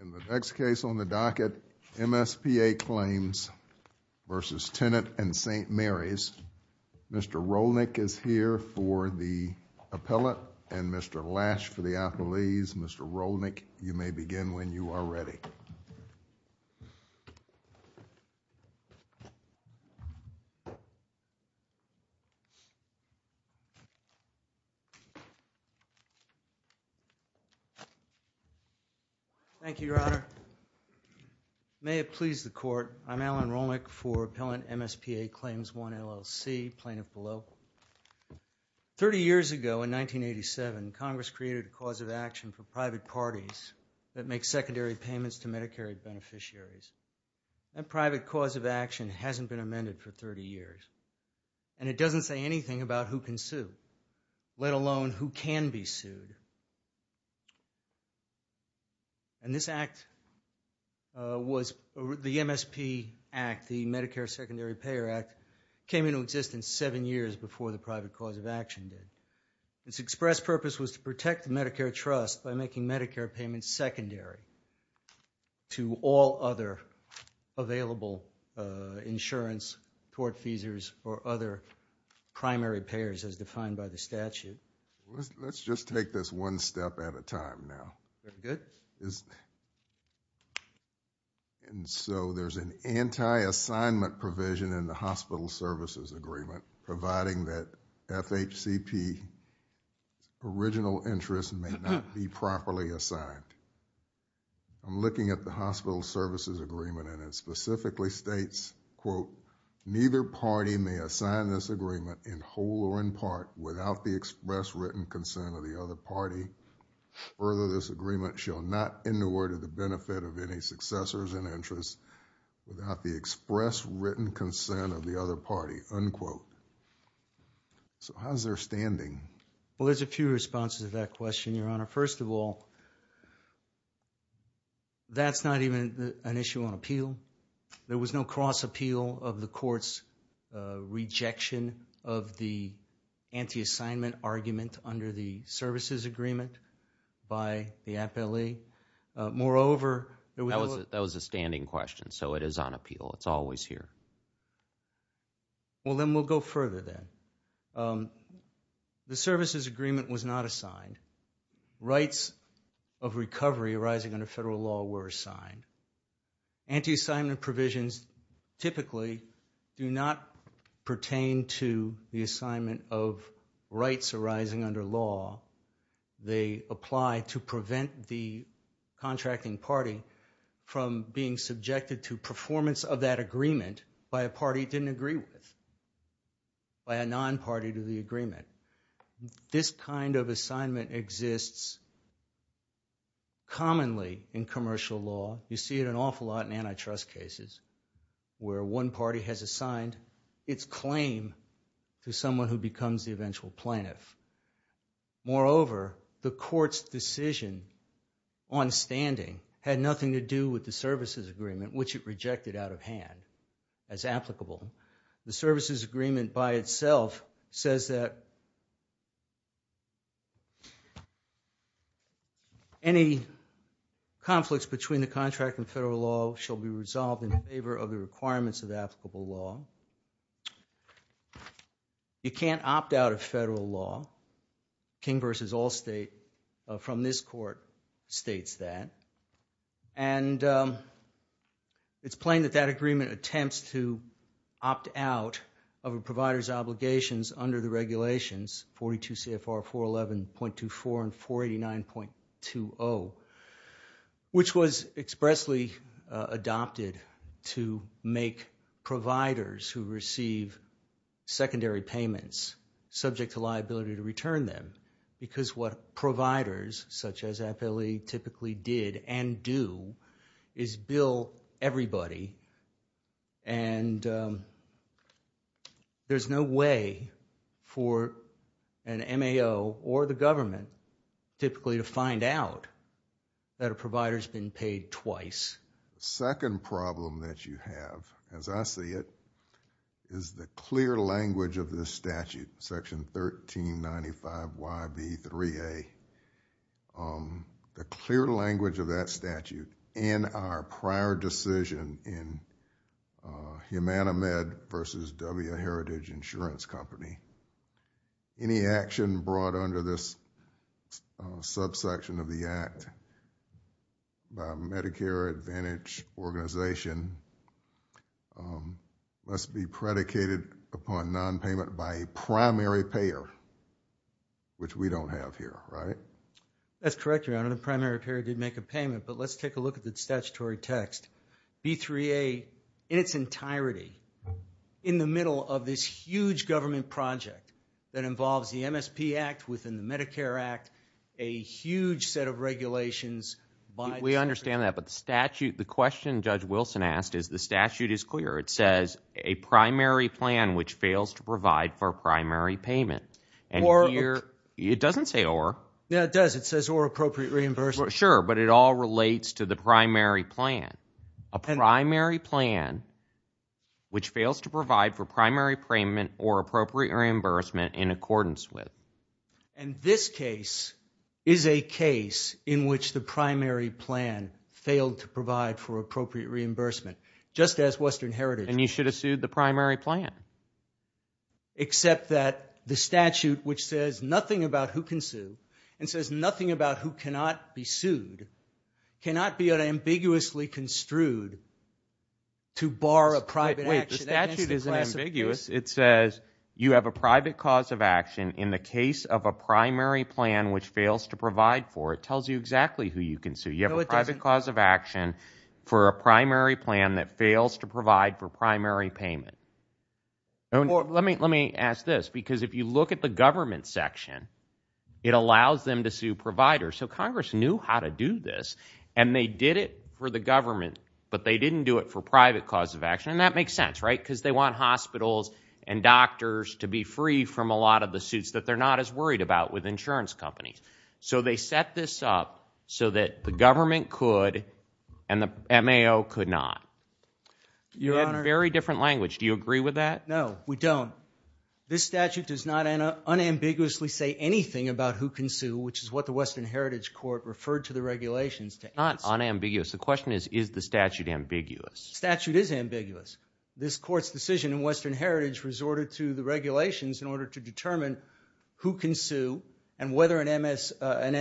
In the next case on the docket, MSPA Claims v. Tenet and St. Mary's, Mr. Rolnick is here for the appellate and Mr. Lash for the appellees. Mr. Rolnick, you may begin when you are ready. Thank you, Your Honor. May it please the Court, I'm Alan Rolnick for Appellant MSPA Claims 1, LLC, Plaintiff below. Thirty years ago, in 1987, Congress created a cause of action for private parties that make secondary payments to Medicare beneficiaries. That private cause of action hasn't been amended for 30 years and it doesn't say anything about who can sue, let alone who can be sued. And this act was the MSP Act, the Medicare Secondary Payer Act, came into existence seven years before the private cause of action did. Its express purpose was to protect the Medicare trust by making Medicare payments secondary to all other available insurance, court fees, or other primary payers as defined by the statute. Let's just take this one step at a time now. And so, there's an anti-assignment provision in the Hospital Services Agreement providing that FHCP original interest may not be properly assigned. I'm looking at the Hospital Services Agreement and it specifically states, quote, neither party may assign this agreement in whole or in part without the express written consent of the other party. Further, this agreement shall not in the word of the benefit of any successors and interests without the express written consent of the other party, unquote. So how's their standing? Well, there's a few responses to that question, Your Honor. First of all, that's not even an issue on appeal. There was no cross-appeal of the court's rejection of the anti-assignment argument under the services agreement by the appellee. Moreover... That was a standing question, so it is on appeal. It's always here. Well, then we'll go further then. The services agreement was not assigned. Rights of recovery arising under federal law were assigned. Anti-assignment provisions typically do not pertain to the assignment of rights arising under law. They apply to prevent the contracting party from being subjected to performance of that agreement by a party it didn't agree with, by a non-party to the agreement. This kind of assignment exists commonly in commercial law. You see it an awful lot in antitrust cases where one party has assigned its claim to someone who becomes the eventual plaintiff. Moreover, the court's decision on standing had nothing to do with the services agreement, which it rejected out of hand as applicable. The services agreement by itself says that any conflicts between the contract and federal law shall be resolved in favor of the requirements of applicable law. You can't opt out of federal law. King v. Allstate from this court states that. And it's plain that that agreement attempts to opt out of a provider's obligations under the regulations 42 CFR 411.24 and 489.20, which was expressly adopted to make providers who receive secondary payments subject to liability to return them because what providers such as FLE typically did and do is bill everybody and there's no way for an MAO or the government typically to find out that a provider's been paid twice. The second problem that you have, as I see it, is the clear language of this statute, section 1395YB3A, the clear language of that statute in our prior decision in Humana Med versus W.A. Heritage Insurance Company. Any action brought under this subsection of the act by a Medicare Advantage organization must be predicated upon nonpayment by a primary payer, which we don't have here, right? That's correct, Your Honor. The primary payer did make a payment, but let's take a look at the statutory text. B3A, in its entirety, in the middle of this huge government project that involves the MSP Act within the Medicare Act, a huge set of regulations by... We understand that, but the question Judge Wilson asked is the statute is clear. It says, a primary plan which fails to provide for primary payment. It doesn't say or. Yeah, it does. It says or appropriate reimbursement. Sure, but it all relates to the primary plan, a primary plan which fails to provide for primary payment or appropriate reimbursement in accordance with. And this case is a case in which the primary plan failed to provide for appropriate reimbursement, just as Western Heritage... And you should have sued the primary plan. Except that the statute, which says nothing about who can sue and says nothing about who cannot be sued, cannot be unambiguously construed to bar a private action... Wait, the statute isn't ambiguous. It says you have a private cause of action in the case of a primary plan which fails to provide for. It tells you exactly who you can sue. You have a private cause of action for a primary plan that fails to provide for primary payment. Let me ask this, because if you look at the government section, it allows them to sue providers. So Congress knew how to do this, and they did it for the government, but they didn't do it for private cause of action, and that makes sense, right? Because they want hospitals and doctors to be free from a lot of the suits that they're not as worried about with insurance companies. So they set this up so that the government could, and the MAO could not. Your Honor... You had very different language. Do you agree with that? No, we don't. This statute does not unambiguously say anything about who can sue, which is what the Western Heritage Court referred to the regulations to answer. It's not unambiguous. The question is, is the statute ambiguous? Statute is ambiguous. This Court's decision in Western Heritage resorted to the regulations in order to determine who can sue and whether an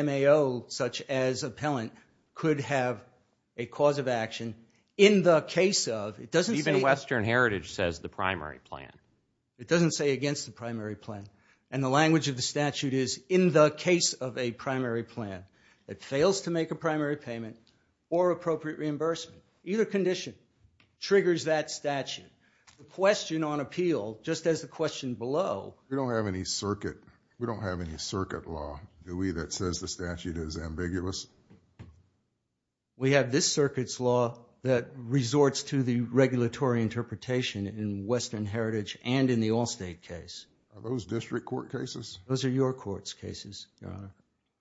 MAO, such as appellant, could have a cause of action in the case of, it doesn't say... Even Western Heritage says the primary plan. It doesn't say against the primary plan. And the language of the statute is, in the case of a primary plan that fails to make a primary payment or appropriate reimbursement, either condition triggers that statute. The question on appeal, just as the question below... We don't have any circuit, we don't have any circuit law, do we, that says the statute is ambiguous? We have this circuit's law that resorts to the regulatory interpretation in Western Heritage and in the Allstate case. Are those district court cases? Those are your court's cases, Your Honor.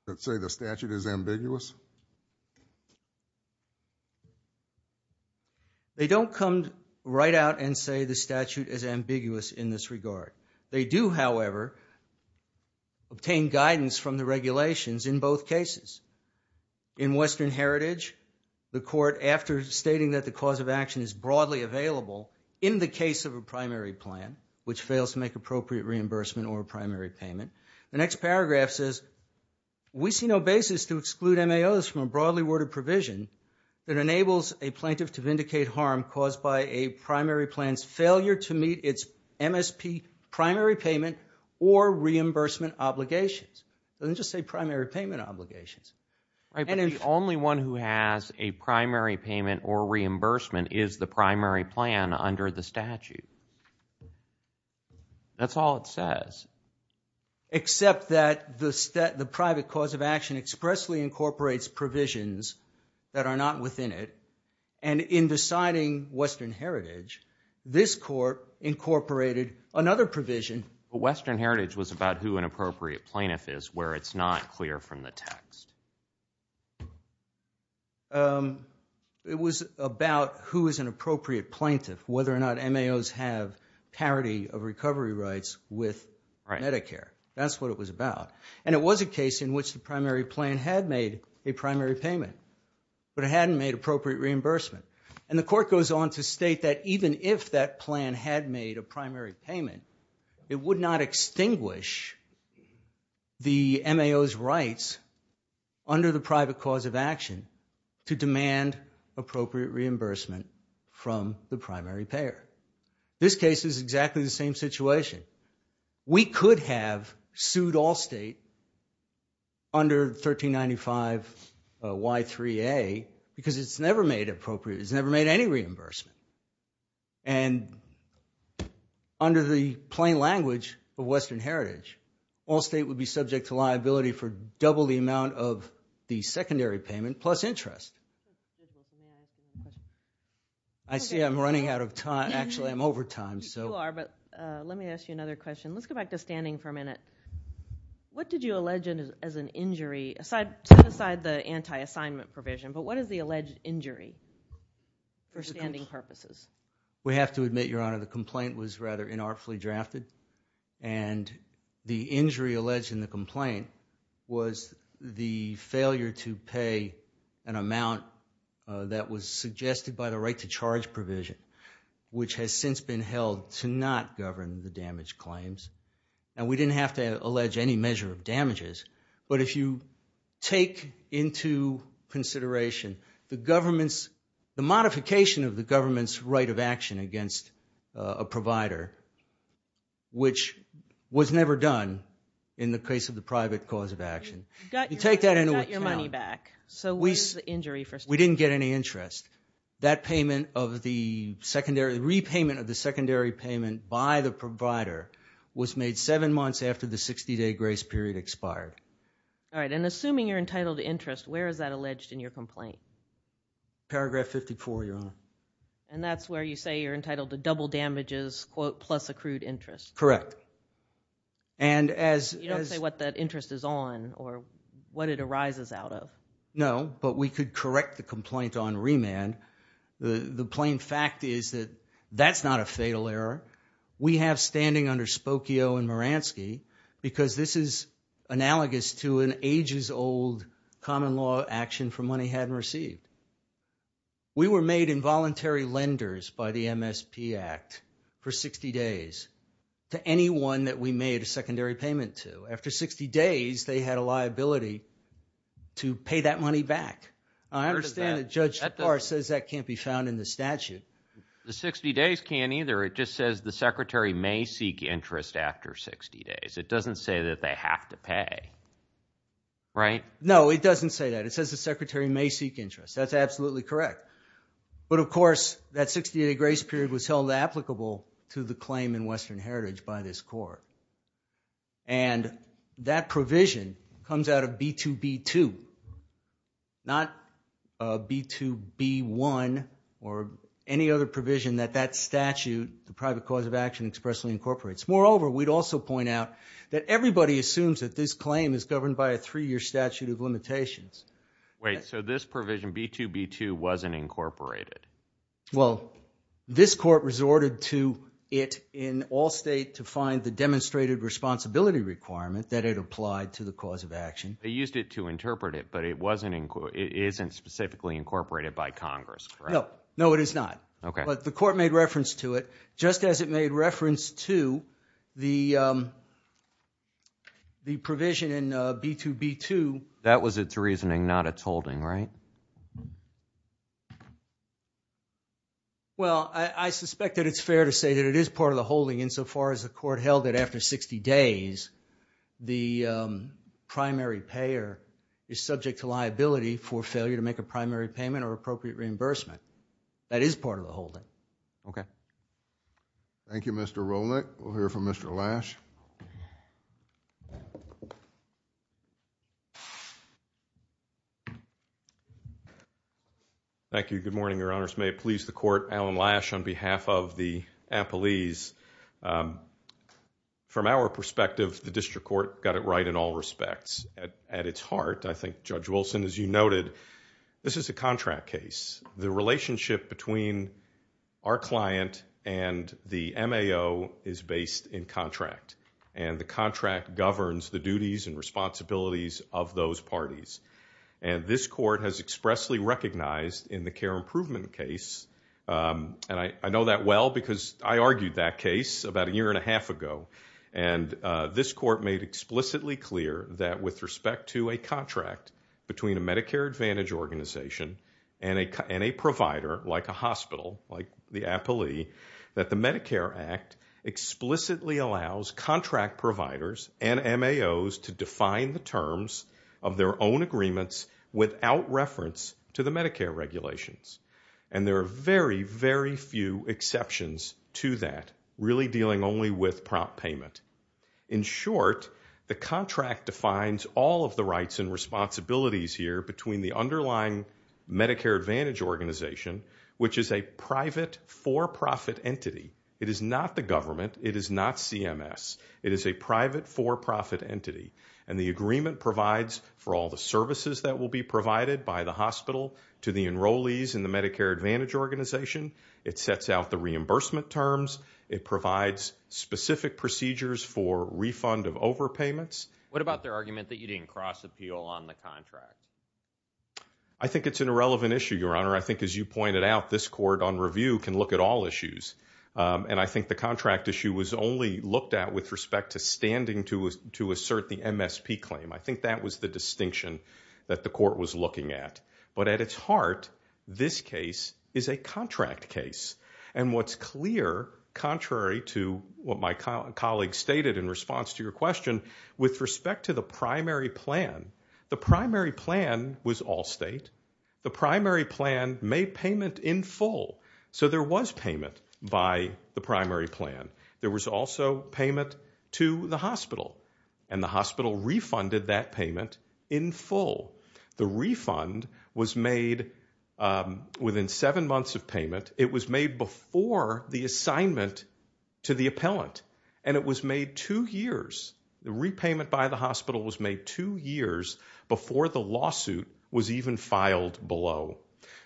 That say the statute is ambiguous? They don't come right out and say the statute is ambiguous in this regard. They do, however, obtain guidance from the regulations in both cases. In Western Heritage, the Court, after stating that the cause of action is broadly available in the case of a primary plan, which fails to make appropriate reimbursement or a primary payment, the next paragraph says, we see no basis to exclude MAOs from a broadly worded provision that enables a plaintiff to vindicate harm caused by a primary plan's failure to meet its MSP primary payment or reimbursement obligations. It doesn't just say primary payment obligations. Right, but the only one who has a primary payment or reimbursement is the primary plan under the statute. That's all it says. Except that the private cause of action expressly incorporates provisions that are not within it and in deciding Western Heritage, this court incorporated another provision. Western Heritage was about who an appropriate plaintiff is, where it's not clear from the text. It was about who is an appropriate plaintiff, whether or not MAOs have parity of recovery rights with Medicare. That's what it was about. And it was a case in which the primary plan had made a primary payment, but it hadn't made appropriate reimbursement. And the court goes on to state that even if that plan had made a primary payment, it would not extinguish the MAO's rights under the private cause of action to demand appropriate reimbursement from the primary payer. This case is exactly the same situation. We could have sued Allstate under 1395Y3A because it's never made any reimbursement. And under the plain language of Western Heritage, Allstate would be subject to liability for double the amount of the secondary payment plus interest. I see I'm running out of time. Actually, I'm over time. You are, but let me ask you another question. Let's go back to standing for a minute. What did you allege as an injury, set aside the anti-assignment provision, but what is the alleged injury for standing purposes? We have to admit, Your Honor, the complaint was rather inartfully drafted. And the injury alleged in the complaint was the failure to pay an amount that was suggested by the right to charge provision, which has since been held to not govern the damage claims. And we didn't have to allege any measure of damages. But if you take into consideration the modification of the government's right of action against a provider, which was never done in the case of the private cause of action, you take that into account. You got your money back. So what is the injury for standing? We didn't get any interest. That repayment of the secondary payment by the provider was made seven months after the All right. And assuming you're entitled to interest, where is that alleged in your complaint? Paragraph 54, Your Honor. And that's where you say you're entitled to double damages, quote, plus accrued interest? Correct. You don't say what that interest is on or what it arises out of? No, but we could correct the complaint on remand. The plain fact is that that's not a fatal error. We have standing under Spokio and Maransky because this is analogous to an ages old common law action for money hadn't received. We were made involuntary lenders by the MSP Act for 60 days to anyone that we made a secondary payment to. After 60 days, they had a liability to pay that money back. I understand that Judge Spar says that can't be found in the statute. The 60 days can't either. It just says the secretary may seek interest after 60 days. It doesn't say that they have to pay, right? No, it doesn't say that. It says the secretary may seek interest. That's absolutely correct. But of course, that 60 day grace period was held applicable to the claim in Western Heritage by this court. And that provision comes out of B2B2, not B2B1 or any other provision that that statute the private cause of action expressly incorporates. Moreover, we'd also point out that everybody assumes that this claim is governed by a three year statute of limitations. Wait, so this provision B2B2 wasn't incorporated? Well, this court resorted to it in all state to find the demonstrated responsibility requirement that it applied to the cause of action. They used it to interpret it, but it wasn't, it isn't specifically incorporated by Congress, correct? No, no, it is not. But the court made reference to it, just as it made reference to the provision in B2B2. That was its reasoning, not its holding, right? Well, I suspect that it's fair to say that it is part of the holding insofar as the court held that after 60 days, the primary payer is subject to liability for failure to make a primary payment or appropriate reimbursement. That is part of the holding. Okay. Thank you, Mr. Rolick. We'll hear from Mr. Lash. Thank you. Good morning, Your Honors. May it please the court, Alan Lash on behalf of the appellees. From our perspective, the district court got it right in all respects. At its heart, I think Judge Wilson, as you noted, this is a contract case. The relationship between our client and the MAO is based in contract. And the contract governs the duties and responsibilities of those parties. And this court has expressly recognized in the care improvement case, and I know that well because I argued that case about a year and a half ago, and this court made explicitly clear that with respect to a contract between a Medicare Advantage organization and a provider like a hospital, like the appellee, that the Medicare Act explicitly allows contract providers and MAOs to define the terms of their own agreements without reference to the Medicare regulations. And there are very, very few exceptions to that, really dealing only with prompt payment. In short, the contract defines all of the rights and responsibilities here between the underlying Medicare Advantage organization, which is a private for-profit entity. It is not the government. It is not CMS. It is a private for-profit entity. And the agreement provides for all the services that will be provided by the hospital to the enrollees in the Medicare Advantage organization. It sets out the reimbursement terms. It provides specific procedures for refund of overpayments. What about their argument that you didn't cross-appeal on the contract? I think it's an irrelevant issue, Your Honor. I think as you pointed out, this court on review can look at all issues. And I think the contract issue was only looked at with respect to standing to assert the MSP claim. I think that was the distinction that the court was looking at. But at its heart, this case is a contract case. And what's clear, contrary to what my colleague stated in response to your question, with respect to the primary plan, the primary plan was Allstate. The primary plan made payment in full. So there was payment by the primary plan. There was also payment to the hospital. And the hospital refunded that payment in full. The refund was made within seven months of payment. It was made before the assignment to the appellant. And it was made two years. The repayment by the hospital was made two years before the lawsuit was even filed below.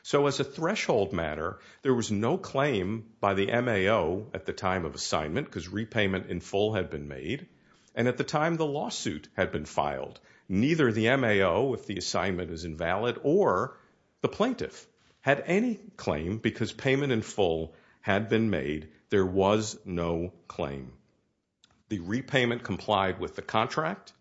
So as a threshold matter, there was no claim by the MAO at the time of assignment because repayment in full had been made. And at the time the lawsuit had been filed, neither the MAO, if the assignment is invalid, or the plaintiff had any claim because payment in full had been made, there was no claim. The repayment complied with the contract.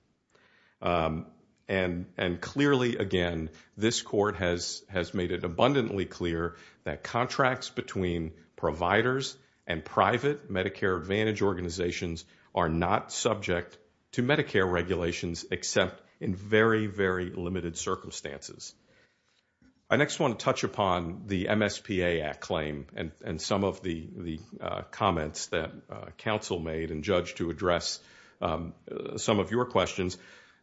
And clearly, again, this court has made it abundantly clear that contracts between providers and private Medicare Advantage organizations are not subject to Medicare regulations except in very, very limited circumstances. I next want to touch upon the MSPA Act claim and some of the comments that counsel made and judged to address some of your questions.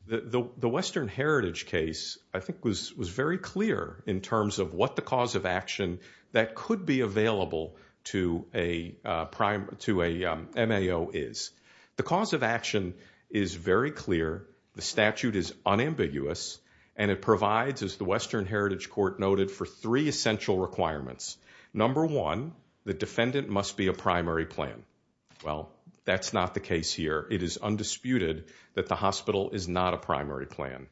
The Western Heritage case, I think, was very clear in terms of what the cause of action that could be available to a MAO is. The cause of action is very clear. The statute is unambiguous and it provides, as the Western Heritage Court noted, for three essential requirements. Number one, the defendant must be a primary plan. Well, that's not the case here. It is undisputed that the hospital is not a primary plan.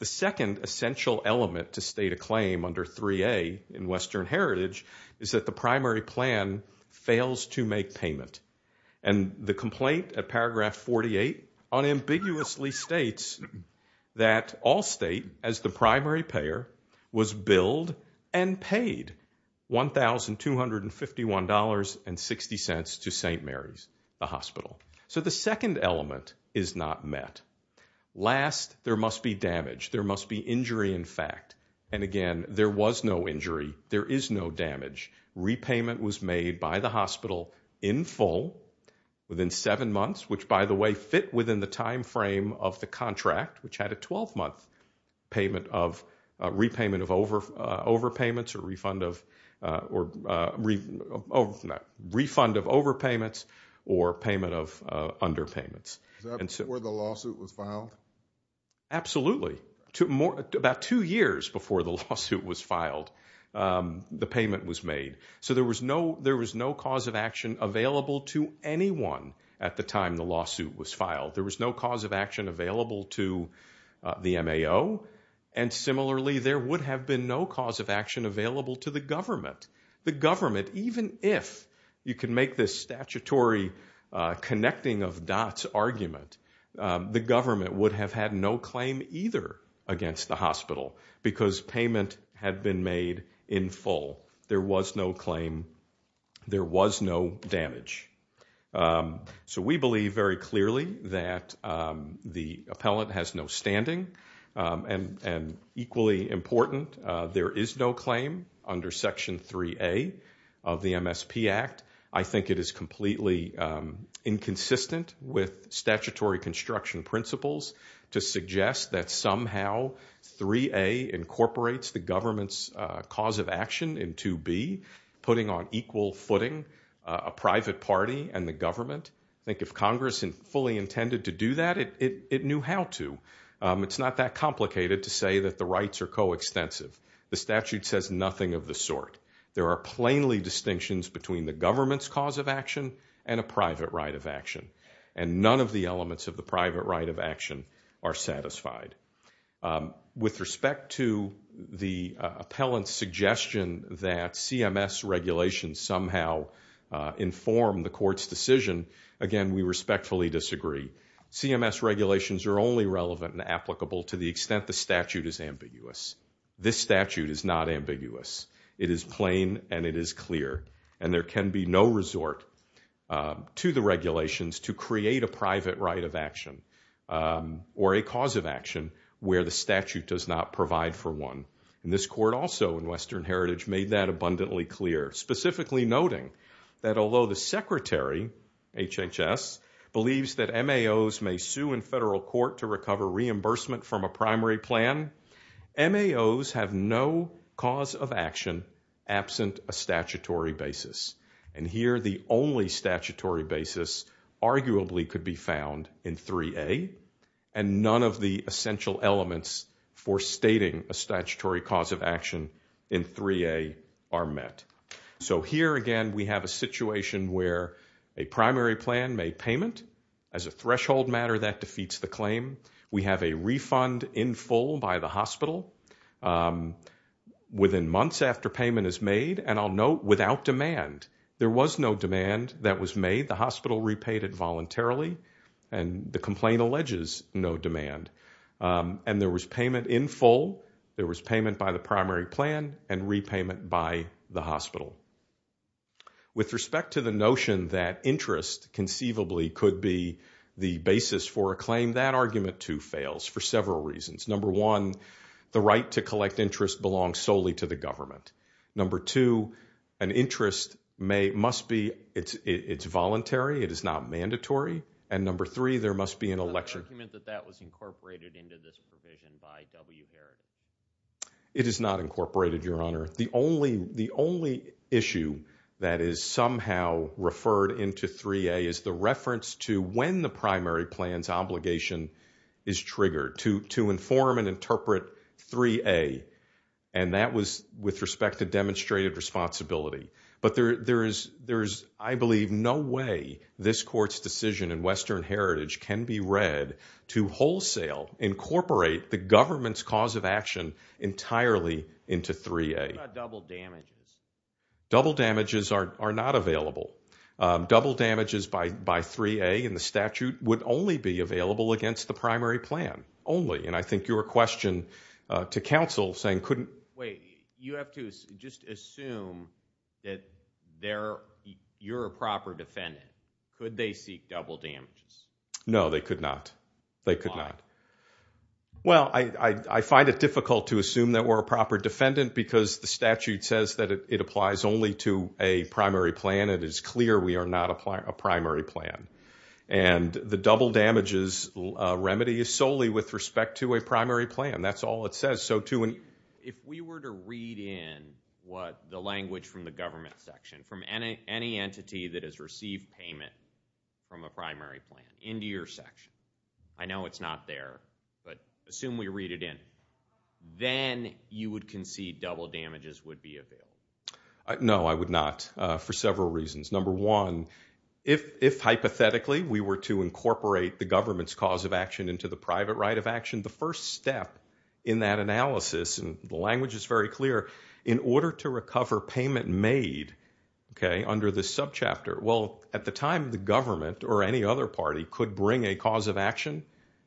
The second essential element to state a claim under 3A in Western Heritage is that the primary plan fails to make payment. And the complaint at paragraph 48 unambiguously states that Allstate, as the primary payer, was billed and paid $1,251.60 to St. Mary's, the hospital. So the second element is not met. Last, there must be damage. There must be injury, in fact. And again, there was no injury. There is no damage. Repayment was made by the hospital in full, within seven months, which by the way, fit within the time frame of the contract, which had a 12-month repayment of overpayments, or refund of overpayments, or payment of underpayments. Is that before the lawsuit was filed? Absolutely. About two years before the lawsuit was filed, the payment was made. So there was no cause of action available to anyone at the time the lawsuit was filed. There was no cause of action available to the MAO. And similarly, there would have been no cause of action available to the government. The government, even if you can make this statutory connecting of dots argument, the hospital, because payment had been made in full. There was no claim. There was no damage. So we believe very clearly that the appellant has no standing. And equally important, there is no claim under Section 3A of the MSP Act. I think it is completely inconsistent with statutory construction principles to suggest that somehow 3A incorporates the government's cause of action in 2B, putting on equal footing a private party and the government. I think if Congress fully intended to do that, it knew how to. It's not that complicated to say that the rights are coextensive. The statute says nothing of the sort. There are plainly distinctions between the government's cause of action and a private right of action. And none of the elements of the private right of action are satisfied. With respect to the appellant's suggestion that CMS regulations somehow inform the court's decision, again, we respectfully disagree. CMS regulations are only relevant and applicable to the extent the statute is ambiguous. This statute is not ambiguous. It is plain and it is clear. And there can be no resort to the regulations to create a private right of action or a cause of action where the statute does not provide for one. This court also in Western Heritage made that abundantly clear, specifically noting that although the Secretary, HHS, believes that MAOs may sue in federal court to recover reimbursement from a primary plan, MAOs have no cause of action absent a statutory basis. And here the only statutory basis arguably could be found in 3A. And none of the essential elements for stating a statutory cause of action in 3A are met. So here, again, we have a situation where a primary plan may payment as a threshold matter that defeats the claim. We have a refund in full by the hospital within months after payment is made. And I'll note, without demand. There was no demand that was made. The hospital repaid it voluntarily. And the complaint alleges no demand. And there was payment in full. There was payment by the primary plan and repayment by the hospital. With respect to the notion that interest conceivably could be the basis for a claim, that argument, too, fails for several reasons. Number one, the right to collect interest belongs solely to the government. Number two, an interest may, must be, it's voluntary. It is not mandatory. And number three, there must be an election. The argument that that was incorporated into this provision by W Heritage? It is not incorporated, Your Honor. The only issue that is somehow referred into 3A is the reference to when the primary plan's obligation is triggered. To inform and interpret 3A. And that was with respect to demonstrated responsibility. But there is, I believe, no way this Court's decision in Western Heritage can be read to wholesale incorporate the government's cause of action entirely into 3A. What about double damages? Double damages are not available. Double damages by 3A in the statute would only be available against the primary plan. Only. And I think your question to counsel saying couldn't... Wait. You have to just assume that you're a proper defendant. Could they seek double damages? No, they could not. They could not. Why? Well, I find it difficult to assume that we're a proper defendant because the statute says that it applies only to a primary plan. It is clear we are not a primary plan. And the double damages remedy is solely with respect to a primary plan. That's all it says. So to... If we were to read in what the language from the government section, from any entity that has received payment from a primary plan into your section, I know it's not there, but assume we read it in, then you would concede double damages would be available. No, I would not for several reasons. Number one, if hypothetically we were to incorporate the government's cause of action into the private right of action, the first step in that analysis, and the language is very clear, in order to recover payment made under this subchapter, well, at the time the government or any other party could bring a cause of action,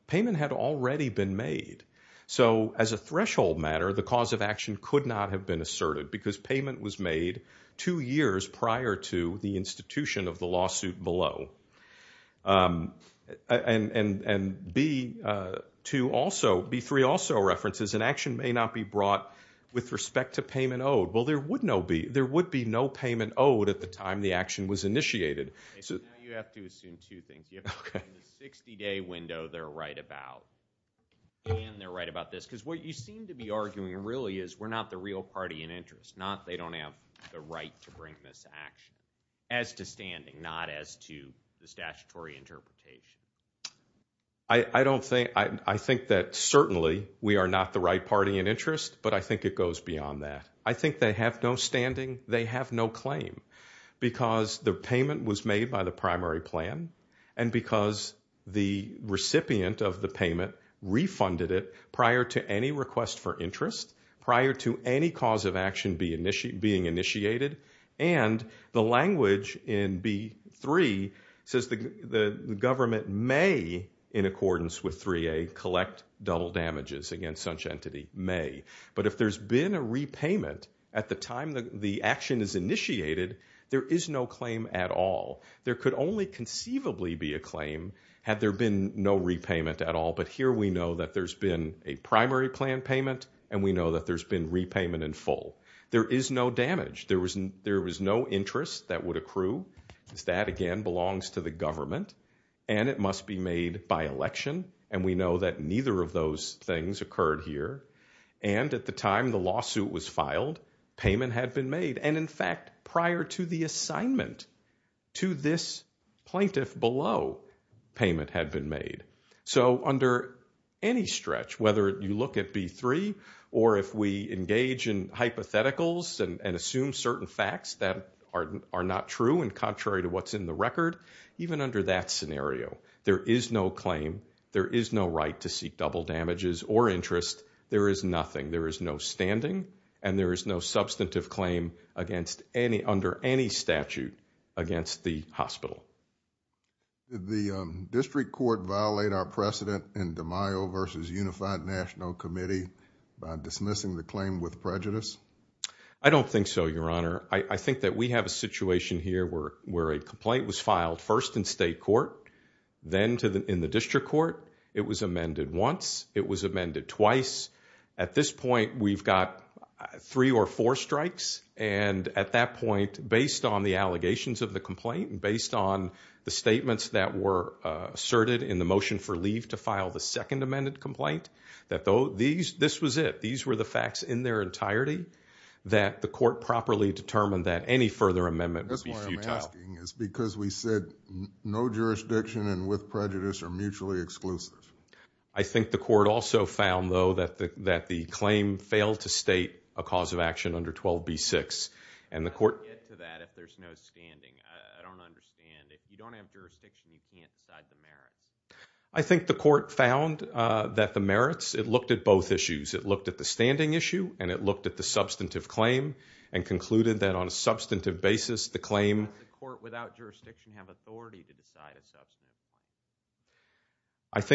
payment had already been made. So as a threshold matter, the cause of action could not have been asserted because payment was made two years prior to the institution of the lawsuit below. And B2 also, B3 also references, an action may not be brought with respect to payment owed. Well, there would be no payment owed at the time the action was initiated. You have to assume two things. In the 60-day window, they're right about this. Because what you seem to be arguing really is we're not the real party in interest. They don't have the right to bring this action as to standing, not as to the statutory interpretation. I think that certainly we are not the right party in interest, but I think it goes beyond that. I think they have no standing, they have no claim, because the payment was made by the primary plan, and because the recipient of the payment refunded it prior to any request for interest, prior to any cause of action being initiated, and the language in B3 says the government may, in accordance with 3A, collect double damages against such entity, may. But if there's been a repayment at the time the action is initiated, there is no claim at all. There could only conceivably be a claim had there been no repayment at all, but here we know that there's been a primary plan payment, and we know that there's been repayment in full. There is no damage. There was no interest that would accrue. That, again, belongs to the government, and it must be made by election, and we know that neither of those things occurred here. And at the time the lawsuit was filed, payment had been made. And, in fact, prior to the assignment to this plaintiff below, payment had been made. So under any stretch, whether you look at B3 or if we engage in hypotheticals and assume certain facts that are not true and contrary to what's in the record, even under that scenario, there is no claim. There is no right to seek double damages or interest. There is nothing. There is no standing, and there is no substantive claim under any statute against the hospital. I don't think so, Your Honor. I think that we have a situation here where a complaint was filed first in state court, then in the district court. It was amended once. It was amended twice. At this point, we've got three or four strikes, and at that point, based on the allegations of the complaint and based on the statements that were asserted in the motion for leave to file the second amended complaint, that this was it. These were the facts in their entirety that the court properly determined that any further amendment would be futile. That's why I'm asking. It's because we said no jurisdiction and with prejudice are mutually exclusive. I think the court also found, though, that the claim failed to state a cause of action under 12b-6. And the court... I'll get to that if there's no standing. I don't understand. If you don't have jurisdiction, you can't decide the merits. I think the court found that the merits, it looked at both issues. It looked at the standing issue, and it looked at the substantive claim and concluded that on a substantive basis, the claim... Does a court without jurisdiction have authority to decide a substantive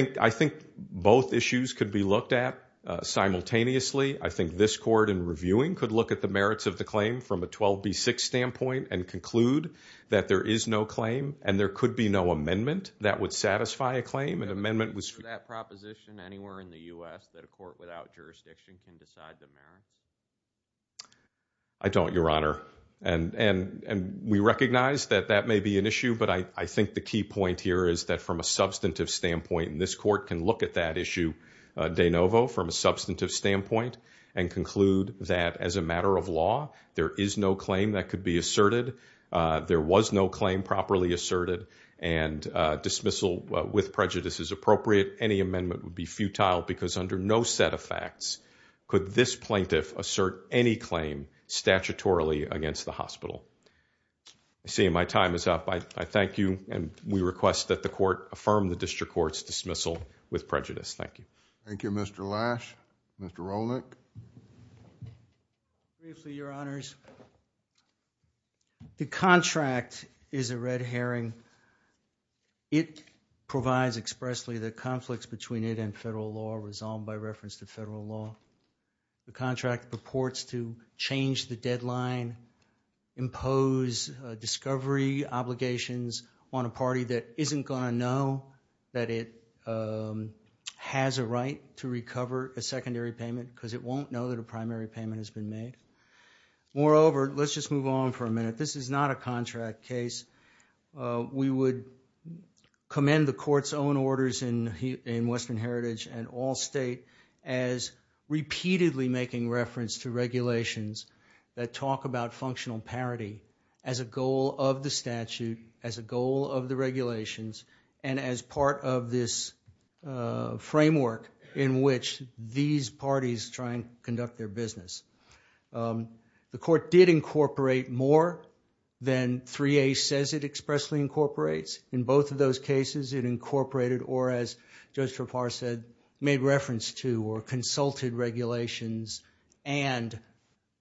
claim? I think both issues could be looked at simultaneously. I think this court, in reviewing, could look at the merits of the claim from a 12b-6 standpoint and conclude that there is no claim and there could be no amendment that would satisfy a claim. An amendment was... Is there a proposition anywhere in the US that a court without jurisdiction can decide the merits? I don't, Your Honor. And we recognize that that may be an issue, but I think the key point here is that from a substantive standpoint, and this court can look at that issue de novo from a substantive standpoint and conclude that as a matter of law, there is no claim that could be asserted, there was no claim properly asserted, and dismissal with prejudice is appropriate. Any amendment would be futile because under no set of facts could this plaintiff assert any claim statutorily against the hospital. I see my time is up. I thank you, and we request that the court affirm the district court's dismissal with prejudice. Thank you. Thank you, Mr. Lash. Mr. Rolnick. Briefly, Your Honors. The contract is a red herring. It provides expressly the conflicts between it and federal law resolved by reference to federal law. The contract purports to change the deadline and impose discovery obligations on a party that isn't going to know that it has a right to recover a secondary payment because it won't know that a primary payment has been made. Moreover, let's just move on for a minute. This is not a contract case. We would commend the court's own orders in Western Heritage and Allstate as repeatedly making reference to regulations that talk about functional parity as a goal of the statute, as a goal of the regulations, and as part of this framework in which these parties try and conduct their business. The court did incorporate more than 3A says it expressly incorporates. In both of those cases, it incorporated or, as Judge Trappard said, made reference to or consulted regulations and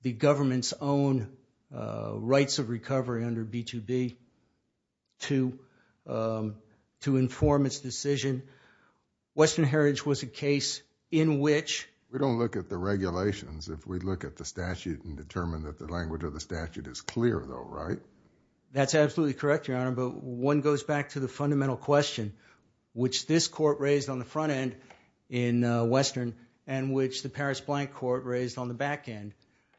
the government's own rights of recovery under B2B to inform its decision. Western Heritage was a case in which... We don't look at the regulations. If we look at the statute and determine that the language of the statute is clear, though, right? That's absolutely correct, Your Honor, but one goes back to the fundamental question which this court raised on the front end in Western and which the Paris Blank Court raised on the back end.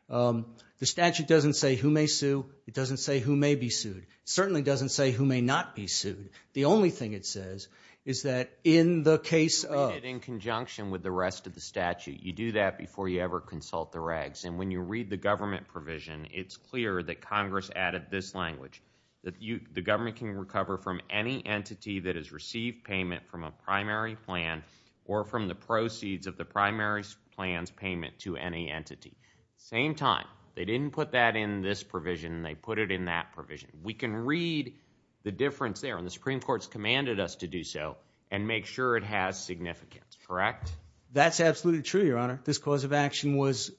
The statute doesn't say who may sue. It doesn't say who may be sued. It certainly doesn't say who may not be sued. The only thing it says is that in the case of... In conjunction with the rest of the statute, you do that before you ever consult the regs, and when you read the government provision, it's clear that Congress added this language, that the government can recover from any entity that has received payment from a primary plan or from the proceeds of the primary plan's payment to any entity. Same time, they didn't put that in this provision. They put it in that provision. We can read the difference there, and the Supreme Court's commanded us to do so and make sure it has significance, correct? That's absolutely true, Your Honor. This cause of action was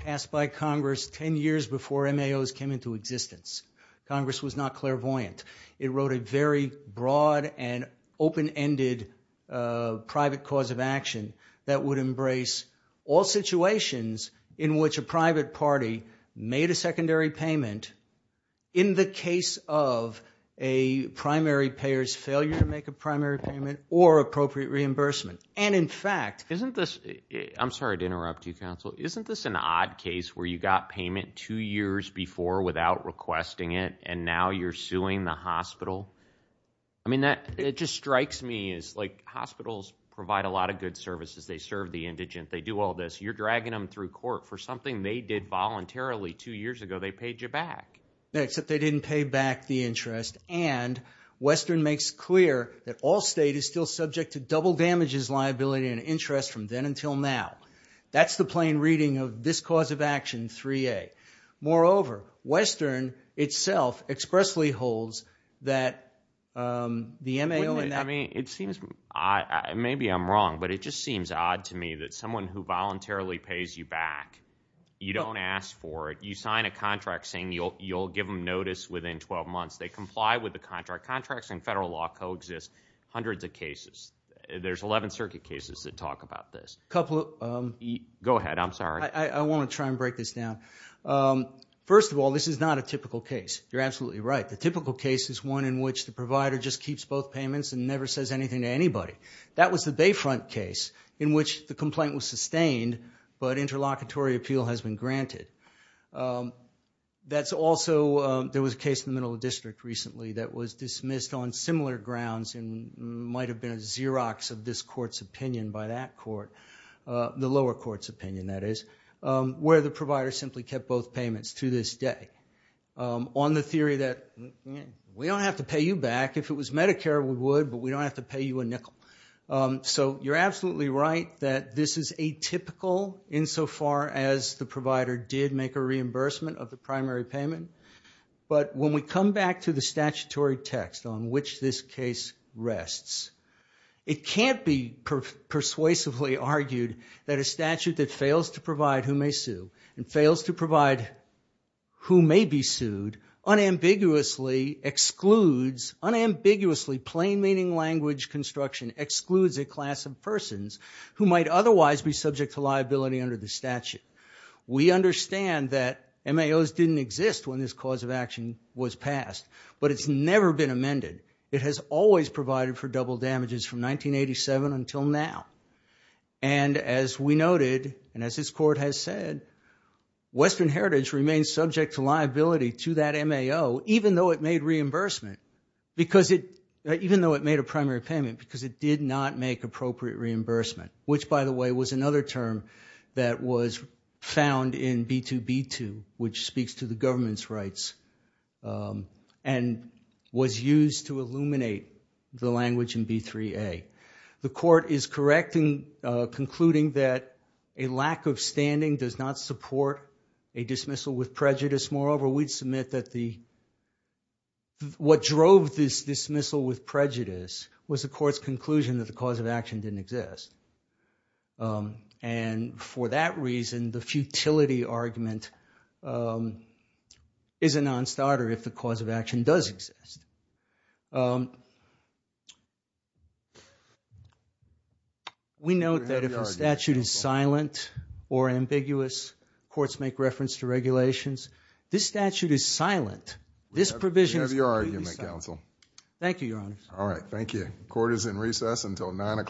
passed by Congress 10 years before MAOs came into existence. Congress was not clairvoyant. It wrote a very broad and open-ended private cause of action that would embrace all situations in which a private party made a secondary payment in the case of a primary payer's failure to make a primary payment or appropriate reimbursement. And, in fact... Isn't this... I'm sorry to interrupt you, counsel. Isn't this an odd case where you got payment two years before without requesting it, and now you're suing the hospital? I mean, it just strikes me as, like, hospitals provide a lot of good services. They serve the indigent. They do all this. You're dragging them through court for something they did voluntarily two years ago. They paid you back. Except they didn't pay back the interest, and Western makes clear that all state is still subject to double damages liability and interest from then until now. That's the plain reading of this cause of action 3A. Moreover, Western itself expressly holds that the MAO... I mean, it seems odd. Maybe I'm wrong, but it just seems odd to me that someone who voluntarily pays you back, you don't ask for it. You sign a contract saying you'll give them notice within 12 months. They comply with the contract. Contracts in federal law coexist hundreds of cases. There's 11 circuit cases that talk about this. Couple of... Go ahead. I'm sorry. I want to try and break this down. First of all, this is not a typical case. You're absolutely right. The typical case is one in which the provider just keeps both payments and never says anything to anybody. That was the Bayfront case in which the complaint was sustained, but interlocutory appeal has been granted. That's also... There was a case in the middle of the district recently that was dismissed on similar grounds and might have been a Xerox of this court's opinion by that court. The lower court's opinion, that is, where the provider simply kept both payments to this day on the theory that, we don't have to pay you back. If it was Medicare, we would, but we don't have to pay you a nickel. You're absolutely right that this is atypical insofar as the provider did make a reimbursement of the primary payment. But when we come back to the statutory text on which this case rests, it can't be persuasively argued that a statute that fails to provide who may sue and fails to provide who may be sued unambiguously excludes, unambiguously plain-meaning language construction excludes a class of persons who might otherwise be subject to liability under the statute. We understand that MAOs didn't exist when this cause of action was passed, but it's never been amended. It has always provided for double damages from 1987 until now. And as we noted, and as this Court has said, Western Heritage remains subject to liability to that MAO, even though it made reimbursement, even though it made a primary payment, because it did not make appropriate reimbursement, which, by the way, was another term that was found in B2B2, which speaks to the government's rights, and was used to illuminate the language in B3A. The Court is correct in concluding that a lack of standing does not support a dismissal with prejudice. Moreover, we'd submit that the... what drove this dismissal with prejudice was the Court's conclusion that the cause of action didn't exist. And for that reason, the futility argument is a non-starter if the cause of action does exist. We note that if a statute is silent or ambiguous, courts make reference to regulations. This statute is silent. This provision is completely silent. Thank you, Your Honors. All right, thank you. Court is in recess until 9 o'clock.